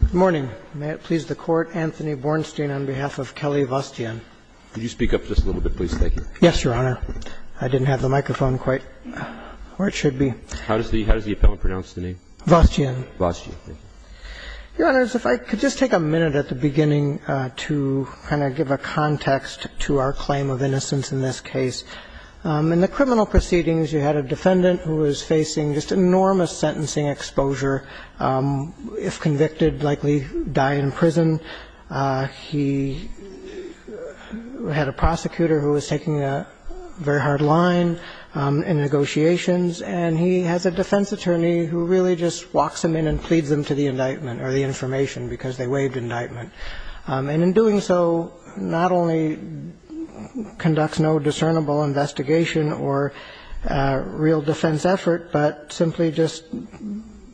Good morning. May it please the Court, Anthony Bornstein on behalf of Kelly Vosgien. Could you speak up just a little bit, please? Thank you. Yes, Your Honor. I didn't have the microphone quite where it should be. How does the appellant pronounce the name? Vosgien. Vosgien. Thank you. Your Honors, if I could just take a minute at the beginning to kind of give a context to our claim of innocence in this case. In the criminal proceedings, you had a defendant who was facing just enormous sentencing exposure. If convicted, likely die in prison. He had a prosecutor who was taking a very hard line in negotiations. And he has a defense attorney who really just walks him in and pleads him to the indictment or the information because they waived indictment. And in doing so, not only conducts no discernible investigation or real defense effort, but simply just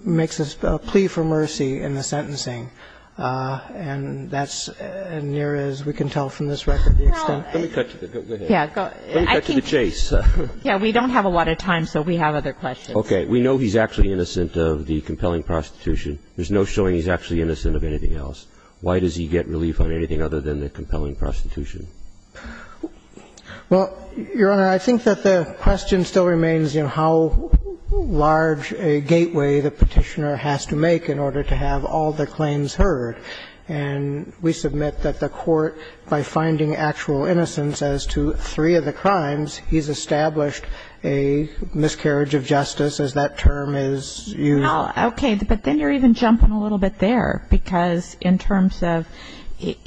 makes a plea for mercy in the sentencing. And that's as near as we can tell from this record the extent. Let me cut to the chase. Yes, we don't have a lot of time, so we have other questions. Okay. We know he's actually innocent of the compelling prostitution. There's no showing he's actually innocent of anything else. Why does he get relief on anything other than the compelling prostitution? Well, Your Honor, I think that the question still remains, you know, how large a gateway the Petitioner has to make in order to have all the claims heard. And we submit that the Court, by finding actual innocence as to three of the crimes, he's established a miscarriage of justice, as that term is used. Well, okay. But then you're even jumping a little bit there, because in terms of it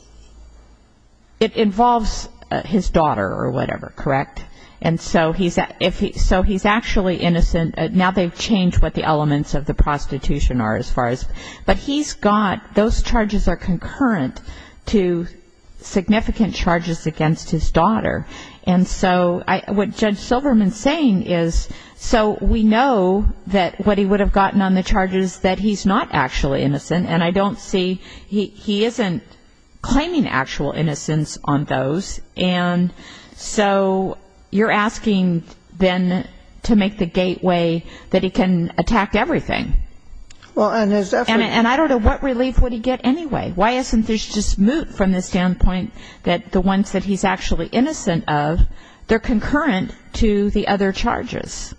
involves his daughter or whatever, correct? And so he's actually innocent. Now they've changed what the elements of the prostitution are as far as. But he's got, those charges are concurrent to significant charges against his daughter. And so what Judge Silverman's saying is, so we know that what he would have gotten on the charges that he's not actually innocent. And I don't see, he isn't claiming actual innocence on those. And so you're asking then to make the gateway that he can attack everything. And I don't know what relief would he get anyway. Why isn't this just moot from the standpoint that the ones that he's actually innocent of, they're concurrent to the other charges?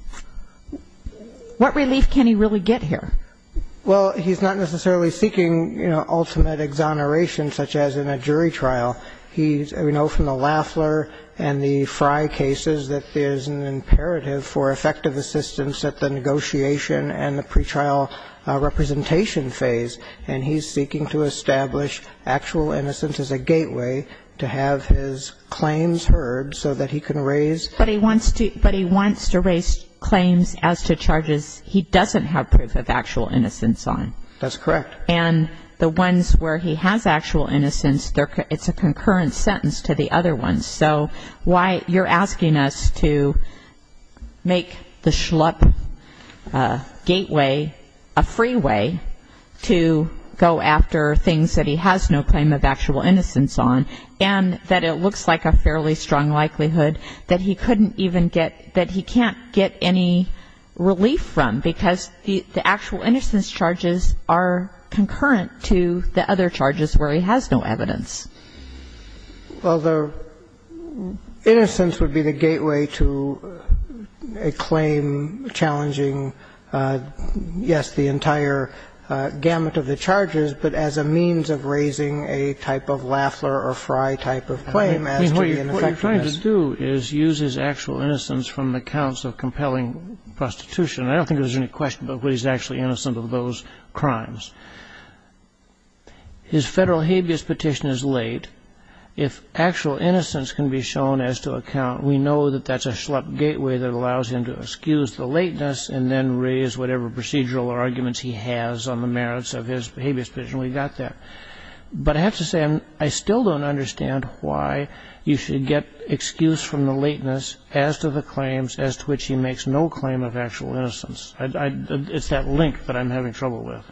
What relief can he really get here? Well, he's not necessarily seeking ultimate exoneration, such as in a jury trial. We know from the Lafler and the Frye cases that there's an imperative for effective assistance at the negotiation and the pretrial representation phase. And he's seeking to establish actual innocence as a gateway to have his claims heard, so that he can raise. But he wants to raise claims as to charges he doesn't have proof of actual innocence on. That's correct. And the ones where he has actual innocence, it's a concurrent sentence to the other ones. So you're asking us to make the schlup gateway a freeway to go after things that he has no claim of actual innocence on. And that it looks like a fairly strong likelihood that he couldn't even get, that he can't get any relief from, because the actual innocence charges are concurrent to the other charges where he has no evidence. Well, the innocence would be the gateway to a claim challenging, yes, the entire gamut of the charges, but as a means of raising a type of Lafler or Frye type of claim as to the ineffectiveness. I mean, what you're trying to do is use his actual innocence from accounts of compelling prostitution. I don't think there's any question about whether he's actually innocent of those crimes. His Federal habeas petition is late. If actual innocence can be shown as to account, we know that that's a schlup gateway that allows him to excuse the lateness and then raise whatever procedural arguments he has on the merits of his habeas petition. We've got that. But I have to say, I still don't understand why you should get excuse from the lateness as to the claims as to which he makes no claim of actual innocence. It's that link that I'm having trouble with.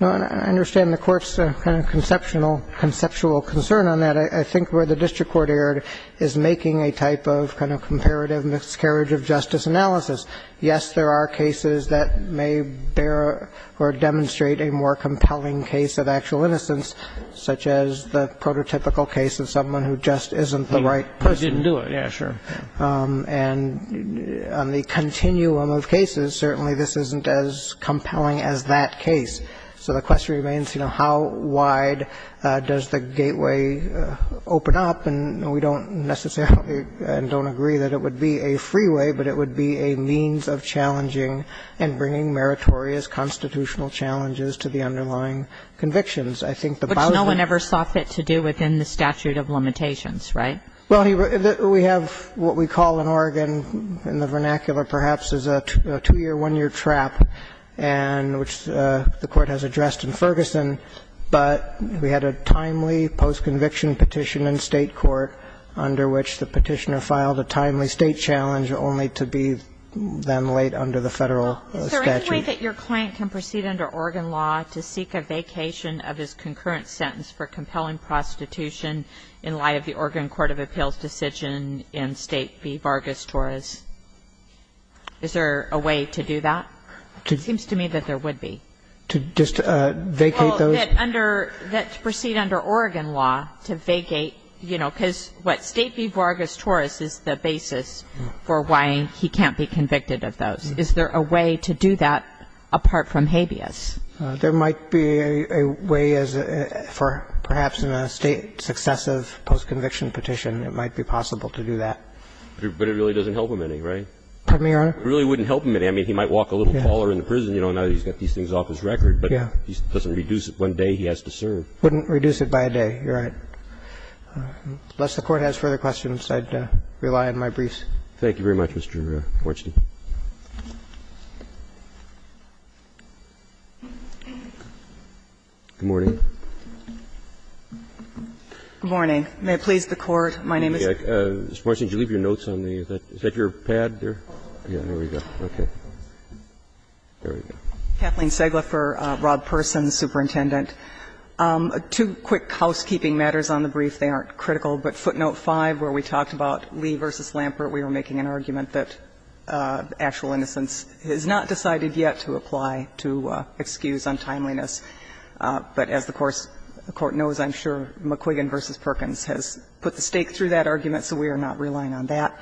No, and I understand the Court's kind of conceptual concern on that. I think where the district court erred is making a type of kind of comparative miscarriage of justice analysis. Yes, there are cases that may bear or demonstrate a more compelling case of actual innocence, such as the prototypical case of someone who just isn't the right person. He didn't do it. Yeah, sure. And on the continuum of cases, certainly this isn't as compelling as that case. So the question remains, you know, how wide does the gateway open up? And we don't necessarily and don't agree that it would be a freeway, but it would be a means of challenging and bringing meritorious constitutional challenges to the underlying convictions. Which no one ever saw fit to do within the statute of limitations, right? Well, we have what we call in Oregon, in the vernacular perhaps, is a two-year, one-year trap, and which the Court has addressed in Ferguson. But we had a timely post-conviction petition in State court under which the petitioner filed a timely State challenge only to be then laid under the Federal statute. Is there any way that your client can proceed under Oregon law to seek a vacation of his concurrent sentence for compelling prostitution in light of the Oregon court of appeals decision in State v. Vargas-Torres? Is there a way to do that? It seems to me that there would be. To just vacate those? Well, that under, that to proceed under Oregon law to vacate, you know, because, what, State v. Vargas-Torres is the basis for why he can't be convicted of those. Is there a way to do that apart from habeas? There might be a way for perhaps in a State successive post-conviction petition, it might be possible to do that. But it really doesn't help him any, right? Pardon me, Your Honor? It really wouldn't help him any. I mean, he might walk a little taller in the prison. You know, now he's got these things off his record, but he doesn't reduce it. One day he has to serve. Wouldn't reduce it by a day. You're right. Unless the Court has further questions, I'd rely on my briefs. Thank you very much, Mr. Marstein. Good morning. Good morning. May it please the Court, my name is. Mr. Marstein, did you leave your notes on the other? Is that your pad there? Yeah, there we go. Okay. There we go. Kathleen Segle for Rob Persons, Superintendent. Two quick housekeeping matters on the brief. They aren't critical, but footnote 5, where we talked about Lee v. Lampert, we were making an argument that actual innocence has not decided yet to apply to excuse untimeliness. But as the Court knows, I'm sure McQuiggan v. Perkins has put the stake through that argument, so we are not relying on that.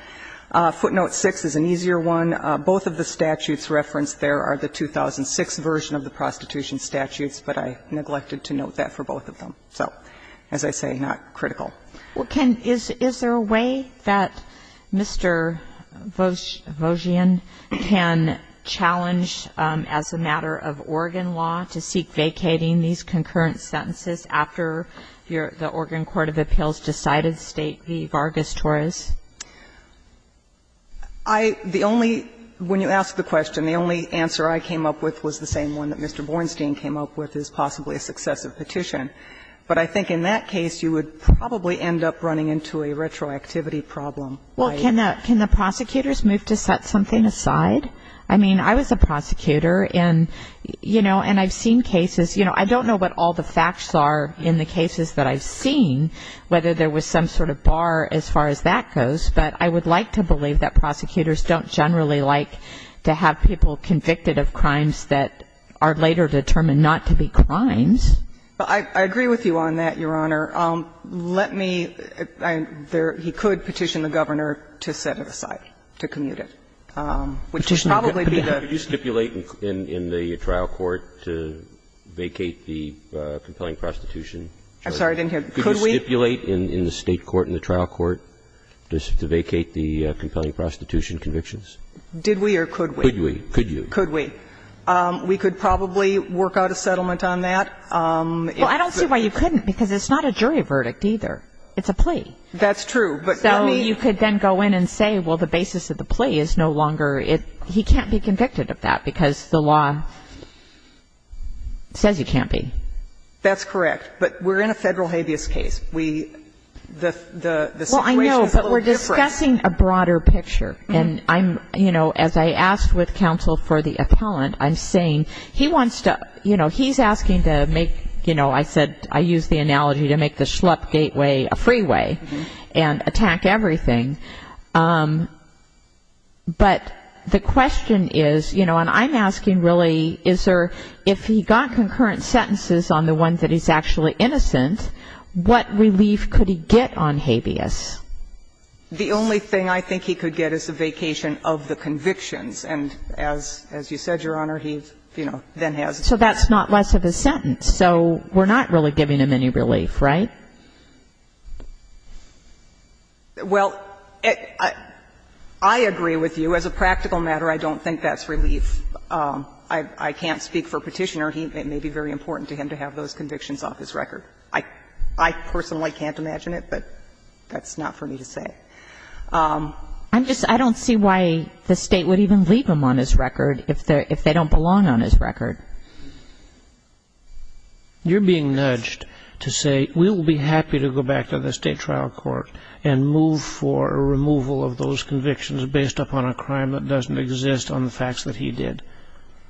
Footnote 6 is an easier one. Both of the statutes referenced there are the 2006 version of the prostitution statutes, but I neglected to note that for both of them. So as I say, not critical. Is there a way that Mr. Vosian can challenge as a matter of Oregon law to seek vacating these concurrent sentences after the Oregon court of appeals decided State v. Vargas Torres? I, the only, when you ask the question, the only answer I came up with was the same one that Mr. Bornstein came up with is possibly a successive petition. But I think in that case, you would probably end up running into a retroactivity problem. Well, can the prosecutors move to set something aside? I mean, I was a prosecutor and, you know, and I've seen cases, you know, I don't know what all the facts are in the cases that I've seen, whether there was some sort of bar as far as that goes, but I would like to believe that prosecutors don't generally like to have people convicted of crimes that are later determined not to be crimes. I agree with you on that, Your Honor. Let me, there, he could petition the Governor to set it aside, to commute it, which would probably be the. Could you stipulate in the trial court to vacate the compelling prostitution? I'm sorry, I didn't hear. Could we? Could you stipulate in the State court in the trial court to vacate the compelling prostitution convictions? Did we or could we? Could we. Could you? Could we. We could probably work out a settlement on that. Well, I don't see why you couldn't, because it's not a jury verdict either. It's a plea. That's true, but let me. So you could then go in and say, well, the basis of the plea is no longer it. He can't be convicted of that because the law says he can't be. That's correct. But we're in a Federal habeas case. We, the situation is a little different. Well, I know, but we're discussing a broader picture. And I'm, you know, as I asked with counsel for the appellant, I'm saying he wants to, you know, he's asking to make, you know, I said, I used the analogy to make the schlup gateway a freeway and attack everything. But the question is, you know, and I'm asking really, is there, if he got concurrent sentences on the one that he's actually innocent, what relief could he get on habeas? The only thing I think he could get is a vacation of the convictions. And as you said, Your Honor, he, you know, then has a vacation. So that's not less of a sentence. So we're not really giving him any relief, right? Well, I agree with you. As a practical matter, I don't think that's relief. I can't speak for Petitioner. But I think that he, it may be very important to him to have those convictions off his record. I personally can't imagine it, but that's not for me to say. I'm just, I don't see why the State would even leave him on his record if they don't belong on his record. You're being nudged to say we'll be happy to go back to the state trial court and move for a removal of those convictions based upon a crime that doesn't exist on the facts that he did.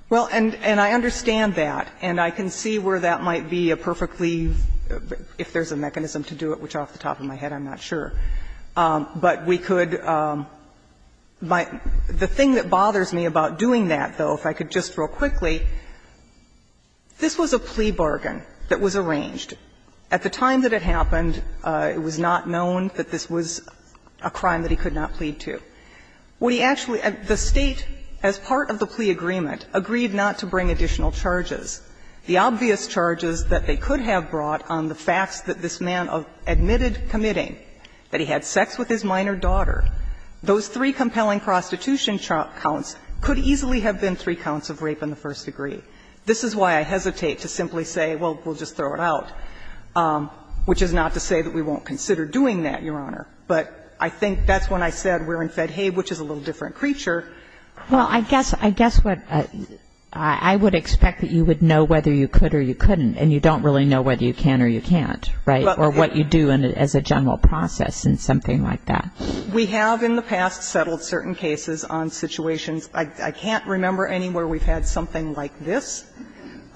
Well, and I understand that. And I can see where that might be a perfectly, if there's a mechanism to do it, which is off the top of my head, I'm not sure. But we could, the thing that bothers me about doing that, though, if I could just real quickly, this was a plea bargain that was arranged. At the time that it happened, it was not known that this was a crime that he could not plead to. The State, as part of the plea agreement, agreed not to bring additional charges. The obvious charges that they could have brought on the facts that this man admitted committing, that he had sex with his minor daughter, those three compelling prostitution counts could easily have been three counts of rape in the first degree. This is why I hesitate to simply say, well, we'll just throw it out, which is not to say that we won't consider doing that, Your Honor. But I think that's when I said we're in Fedhave, which is a little different creature. Well, I guess, I guess what, I would expect that you would know whether you could or you couldn't, and you don't really know whether you can or you can't, right, or what you do as a general process and something like that. We have in the past settled certain cases on situations. I can't remember anywhere we've had something like this.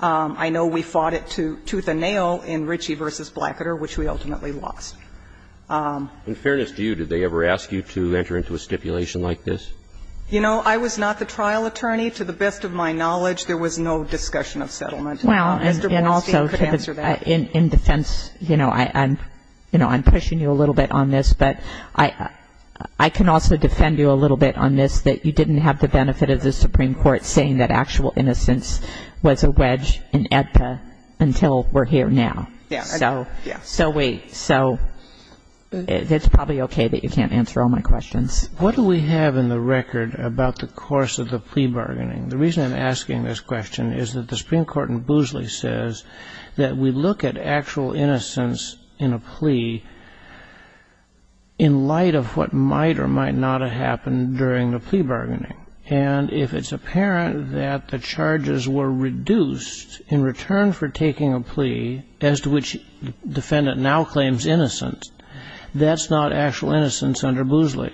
I know we fought it tooth and nail in Ritchie v. Blackiter, which we ultimately lost. In fairness to you, did they ever ask you to enter into a stipulation like this? You know, I was not the trial attorney. To the best of my knowledge, there was no discussion of settlement. Well, and also, in defense, you know, I'm pushing you a little bit on this, but I can also defend you a little bit on this, that you didn't have the benefit of the Supreme Court saying that actual innocence was a wedge in AEDPA until we're here now. Yes. So wait. So it's probably okay that you can't answer all my questions. What do we have in the record about the course of the plea bargaining? The reason I'm asking this question is that the Supreme Court in Boosley says that we look at actual innocence in a plea in light of what might or might not have happened during the plea bargaining. And if it's apparent that the charges were reduced in return for taking a plea, as to which defendant now claims innocence, that's not actual innocence under Boosley.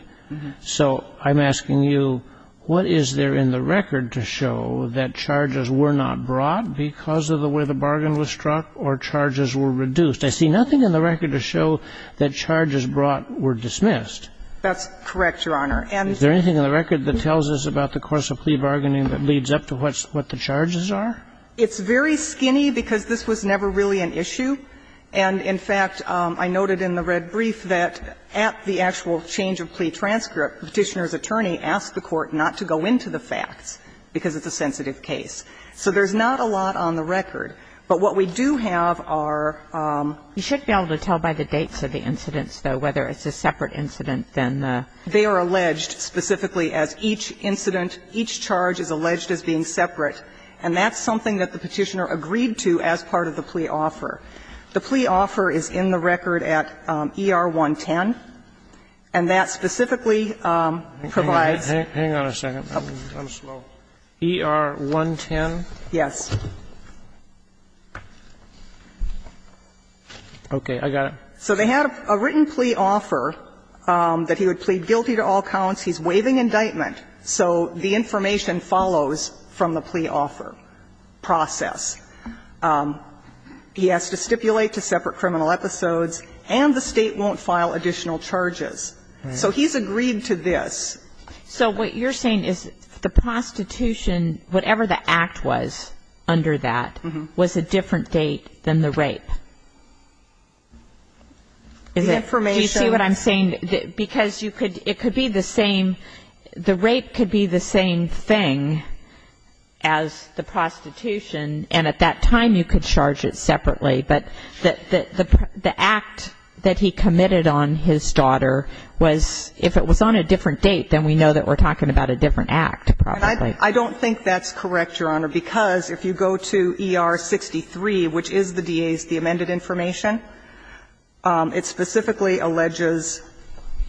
So I'm asking you, what is there in the record to show that charges were not brought because of the way the bargain was struck or charges were reduced? I see nothing in the record to show that charges brought were dismissed. That's correct, Your Honor. Is there anything in the record that tells us about the course of plea bargaining that leads up to what the charges are? It's very skinny, because this was never really an issue. And, in fact, I noted in the red brief that at the actual change of plea transcript, Petitioner's attorney asked the Court not to go into the facts, because it's a sensitive case. So there's not a lot on the record. But what we do have are ---- You should be able to tell by the dates of the incidents, though, whether it's a separate incident than the ---- They are alleged specifically as each incident, each charge is alleged as being separate. And that's something that the Petitioner agreed to as part of the plea offer. The plea offer is in the record at ER-110, and that specifically provides ---- Hang on a second. I'm slow. ER-110? Yes. Okay. I got it. So they had a written plea offer that he would plead guilty to all counts. He's waiving indictment. So the information follows from the plea offer process. He has to stipulate to separate criminal episodes, and the State won't file additional charges. So he's agreed to this. So what you're saying is the prostitution, whatever the act was under that, was a different date than the rape. The information ---- Do you see what I'm saying? Because you could ---- it could be the same ---- the rape could be the same thing as the prostitution, and at that time you could charge it separately. But the act that he committed on his daughter was ---- if it was on a different date, then we know that we're talking about a different act, probably. I don't think that's correct, Your Honor, because if you go to ER-63, which is the D.A.'s, the amended information, it specifically alleges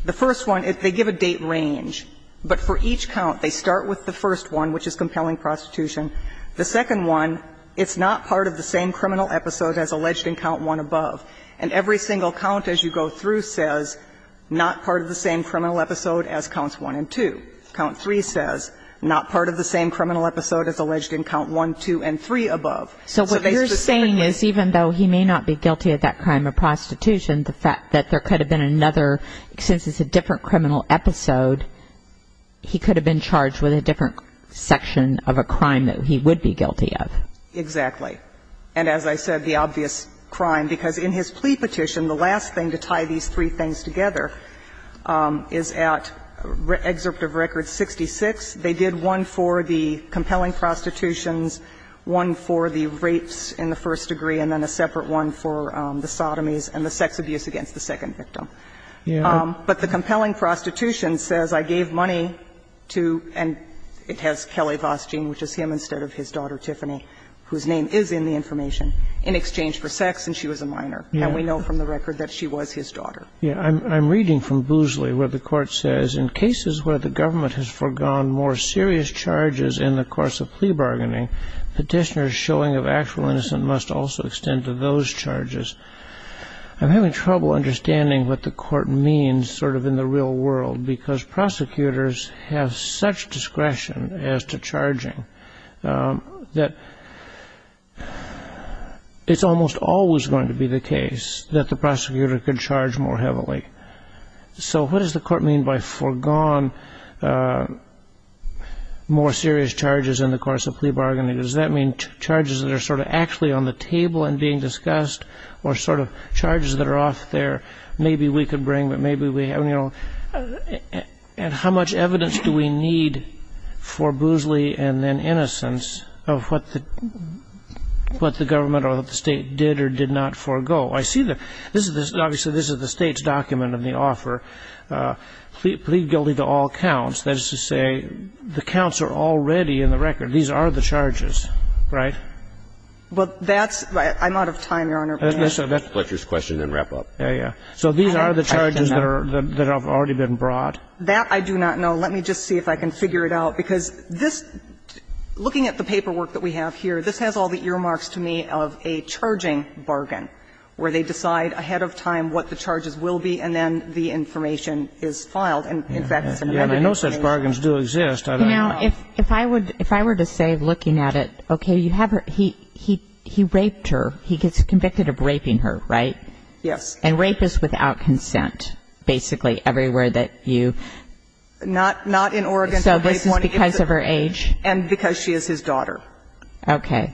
the first one, they give a date range, but for each count they start with the first one, which is compelling prostitution. The second one, it's not part of the same criminal episode as alleged in count 1 above. And every single count as you go through says not part of the same criminal episode as counts 1 and 2. Count 3 says not part of the same criminal episode as alleged in count 1, 2, and 3 above. So they specifically ---- So what you're saying is even though he may not be guilty of that crime of prostitution, the fact that there could have been another ---- since it's a different criminal episode, he could have been charged with a different section of a crime that he would be guilty of. Exactly. And as I said, the obvious crime, because in his plea petition, the last thing to tie these three things together is at excerpt of record 66, they did one for the compelling prostitutions, one for the rapes in the first degree, and then a separate one for the sodomies and the sex abuse against the second victim. But the compelling prostitution says, I gave money to, and it has Kelly Vosgeen, which is him instead of his daughter Tiffany, whose name is in the information, in exchange for sex, and she was a minor. And we know from the record that she was his daughter. Yeah. I'm reading from Boozley where the Court says, In cases where the government has forgone more serious charges in the course of plea bargaining, petitioners showing of actual innocence must also extend to those charges. I'm having trouble understanding what the Court means sort of in the real world, because prosecutors have such discretion as to charging that it's almost always going to be the case that the prosecutor could charge more heavily. So what does the Court mean by forgone more serious charges in the course of plea bargaining? Does that mean charges that are sort of actually on the table and being discussed, or sort of charges that are off there, maybe we could bring, but maybe we don't? And how much evidence do we need for Boozley and then innocence of what the government or what the State did or did not forego? I see the – this is the – obviously, this is the State's document in the offer, plea guilty to all counts. That is to say, the counts are already in the record. These are the charges, right? Well, that's – I'm out of time, Your Honor. Let's let your question then wrap up. Yeah, yeah. So these are the charges that are – that have already been brought? That I do not know. Let me just see if I can figure it out, because this – looking at the paperwork that we have here, this has all the earmarks to me of a charging bargain, where they decide ahead of time what the charges will be, and then the information is filed. And, in fact, it's in one of these cases. I know such bargains do exist. You know, if I were to say, looking at it, okay, you have her – he raped her. He gets convicted of raping her, right? Yes. And rape is without consent, basically, everywhere that you – Not in Oregon. So this is because of her age? And because she is his daughter. Okay.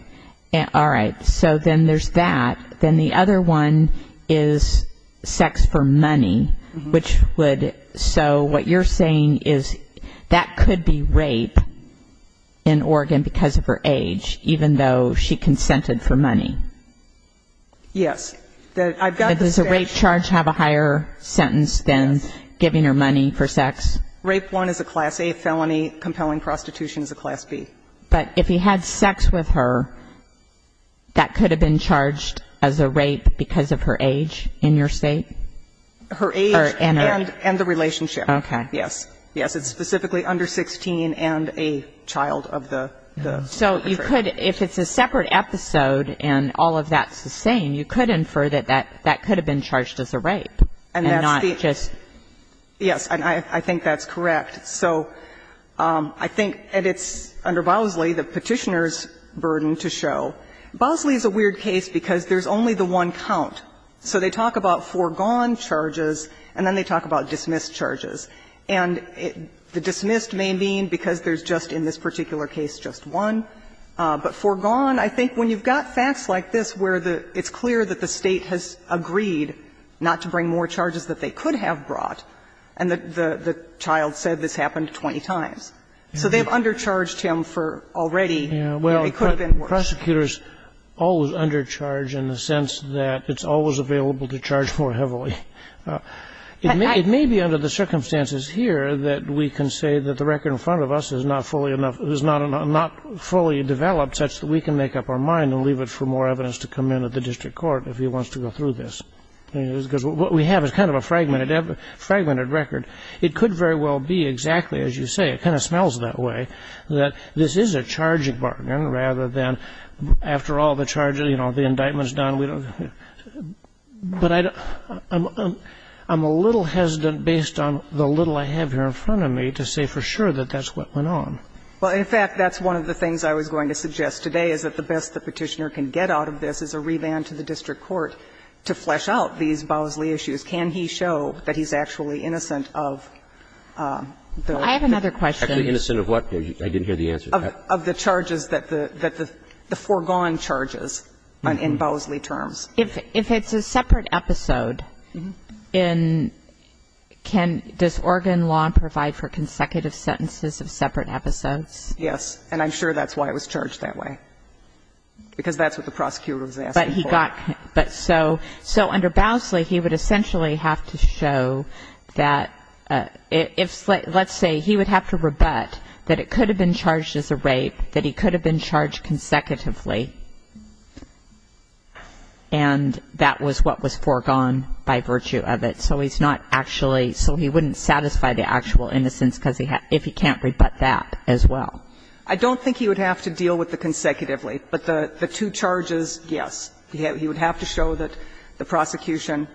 All right. So then there's that. Then the other one is sex for money, which would – so what you're saying is that could be rape in Oregon because of her age, even though she consented for money? Yes. That I've got the sex. Does a rape charge have a higher sentence than giving her money for sex? Rape one is a Class A felony. Compelling prostitution is a Class B. But if he had sex with her, that could have been charged as a rape because of her age in your State? Her age and the relationship. Okay. Yes. Yes. It's specifically under 16 and a child of the country. So you could – if it's a separate episode and all of that's the same, you could infer that that could have been charged as a rape and not just – Yes. And I think that's correct. So I think it's under Bosley, the Petitioner's burden to show. Bosley is a weird case because there's only the one count. So they talk about foregone charges, and then they talk about dismissed charges. And the dismissed may mean because there's just in this particular case just one. But foregone, I think when you've got facts like this where it's clear that the State has agreed not to bring more charges that they could have brought, and the child said this happened 20 times, so they've undercharged him for already where it could have been worse. Well, prosecutors always undercharge in the sense that it's always available to charge more heavily. It may be under the circumstances here that we can say that the record in front of us is not fully developed such that we can make up our mind and leave it for more evidence to come in at the district court if he wants to go through this. Because what we have is kind of a fragmented record. It could very well be exactly as you say – it kind of smells that way – that this is a charging bargain rather than after all the charges, you know, the indictment is done. But I'm a little hesitant based on the little I have here in front of me to say for sure that that's what went on. Well, in fact, that's one of the things I was going to suggest today is that the best the Petitioner can get out of this is a revand to the district court to flesh out these Bosley issues. Can he show that he's actually innocent of the – I have another question. Innocent of what? I didn't hear the answer. Of the charges that the – the foregone charges in Bosley terms. If it's a separate episode, in – can – does Oregon law provide for consecutive sentences of separate episodes? Yes. And I'm sure that's why it was charged that way, because that's what the prosecutor was asking for. But he got – but so – so under Bosley, he would essentially have to show that if – let's say he would have to rebut that it could have been charged as a rape, that he could have been charged consecutively, and that was what was foregone by virtue of it. So he's not actually – so he wouldn't satisfy the actual innocence because he – if he can't rebut that as well. I don't think he would have to deal with the consecutively. But the two charges, yes. He would have to show that the prosecution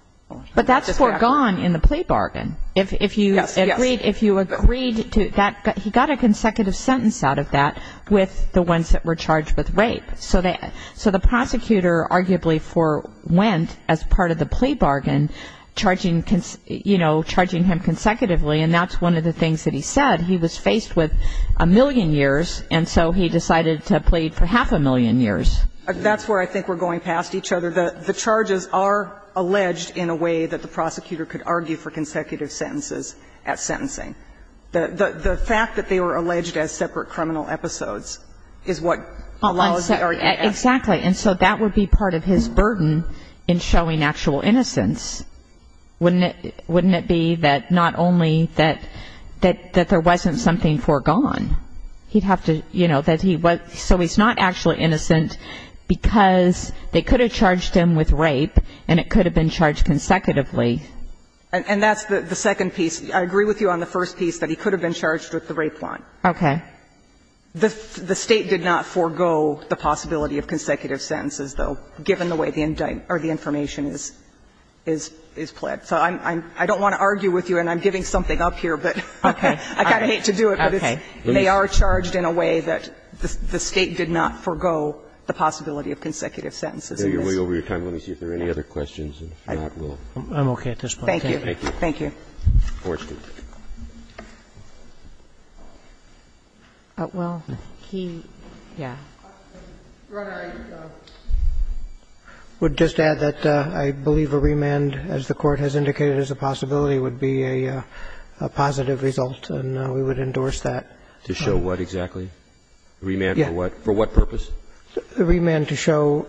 – But that's foregone in the plea bargain. If you agreed – if you agreed to that – he got a consecutive sentence out of that with the ones that were charged with rape. So they – so the prosecutor arguably forewent as part of the plea bargain, charging – you know, charging him consecutively, and that's one of the things that he said. He was faced with a million years, and so he decided to plead for half a million years. That's where I think we're going past each other. So the charges are alleged in a way that the prosecutor could argue for consecutive sentences at sentencing. The fact that they were alleged as separate criminal episodes is what allows the argument. Exactly. And so that would be part of his burden in showing actual innocence, wouldn't it? Wouldn't it be that not only that there wasn't something foregone, he'd have to plead, you know, that he was – so he's not actually innocent because they could have charged him with rape, and it could have been charged consecutively. And that's the second piece. I agree with you on the first piece, that he could have been charged with the rape line. Okay. The State did not forego the possibility of consecutive sentences, though, given the way the information is pled. So I don't want to argue with you, and I'm giving something up here, but I kind of hate to do it. Okay. They are charged in a way that the State did not forego the possibility of consecutive sentences in this. Okay. We're way over your time. Let me see if there are any other questions, and if not, we'll. I'm okay at this point. Thank you. Thank you. Thank you. Of course. Well, he – yeah. Your Honor, I would just add that I believe a remand, as the Court has indicated, as a possibility would be a positive result, and we would endorse that. To show what exactly? Remand for what purpose? Remand to show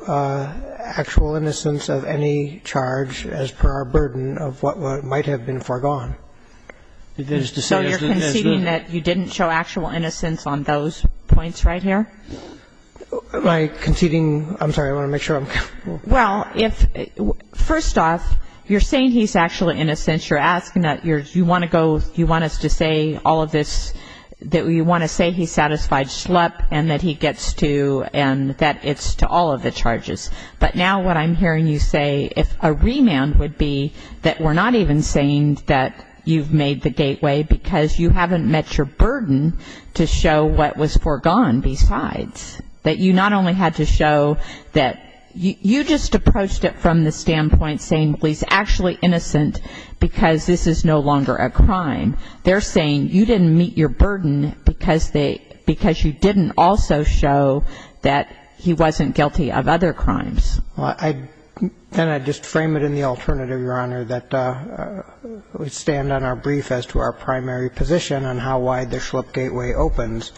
actual innocence of any charge as per our burden of what might have been foregone. So you're conceding that you didn't show actual innocence on those points right here? Am I conceding? I'm sorry. I want to make sure I'm careful. Well, if – first off, you're saying he's actually innocent. You're asking that you want to go – you want us to say all of this – that you want to say he's satisfied slup and that he gets to – and that it's to all of the charges. But now what I'm hearing you say, if a remand would be that we're not even saying that you've made the gateway because you haven't met your burden to show what was – you just approached it from the standpoint saying he's actually innocent because this is no longer a crime. They're saying you didn't meet your burden because they – because you didn't also show that he wasn't guilty of other crimes. Well, I – and I just frame it in the alternative, Your Honor, that we stand on our brief as to our primary position on how wide the slup gateway opens,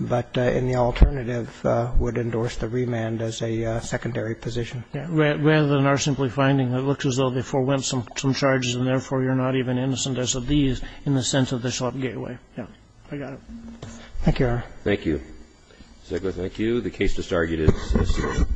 but in the alternative would endorse the remand as a secondary position. Yeah. Rather than our simply finding that it looks as though they forewent some charges and therefore you're not even innocent as of these in the sense of the slup gateway. I got it. Thank you, Your Honor. Thank you. Thank you. The case is disargued.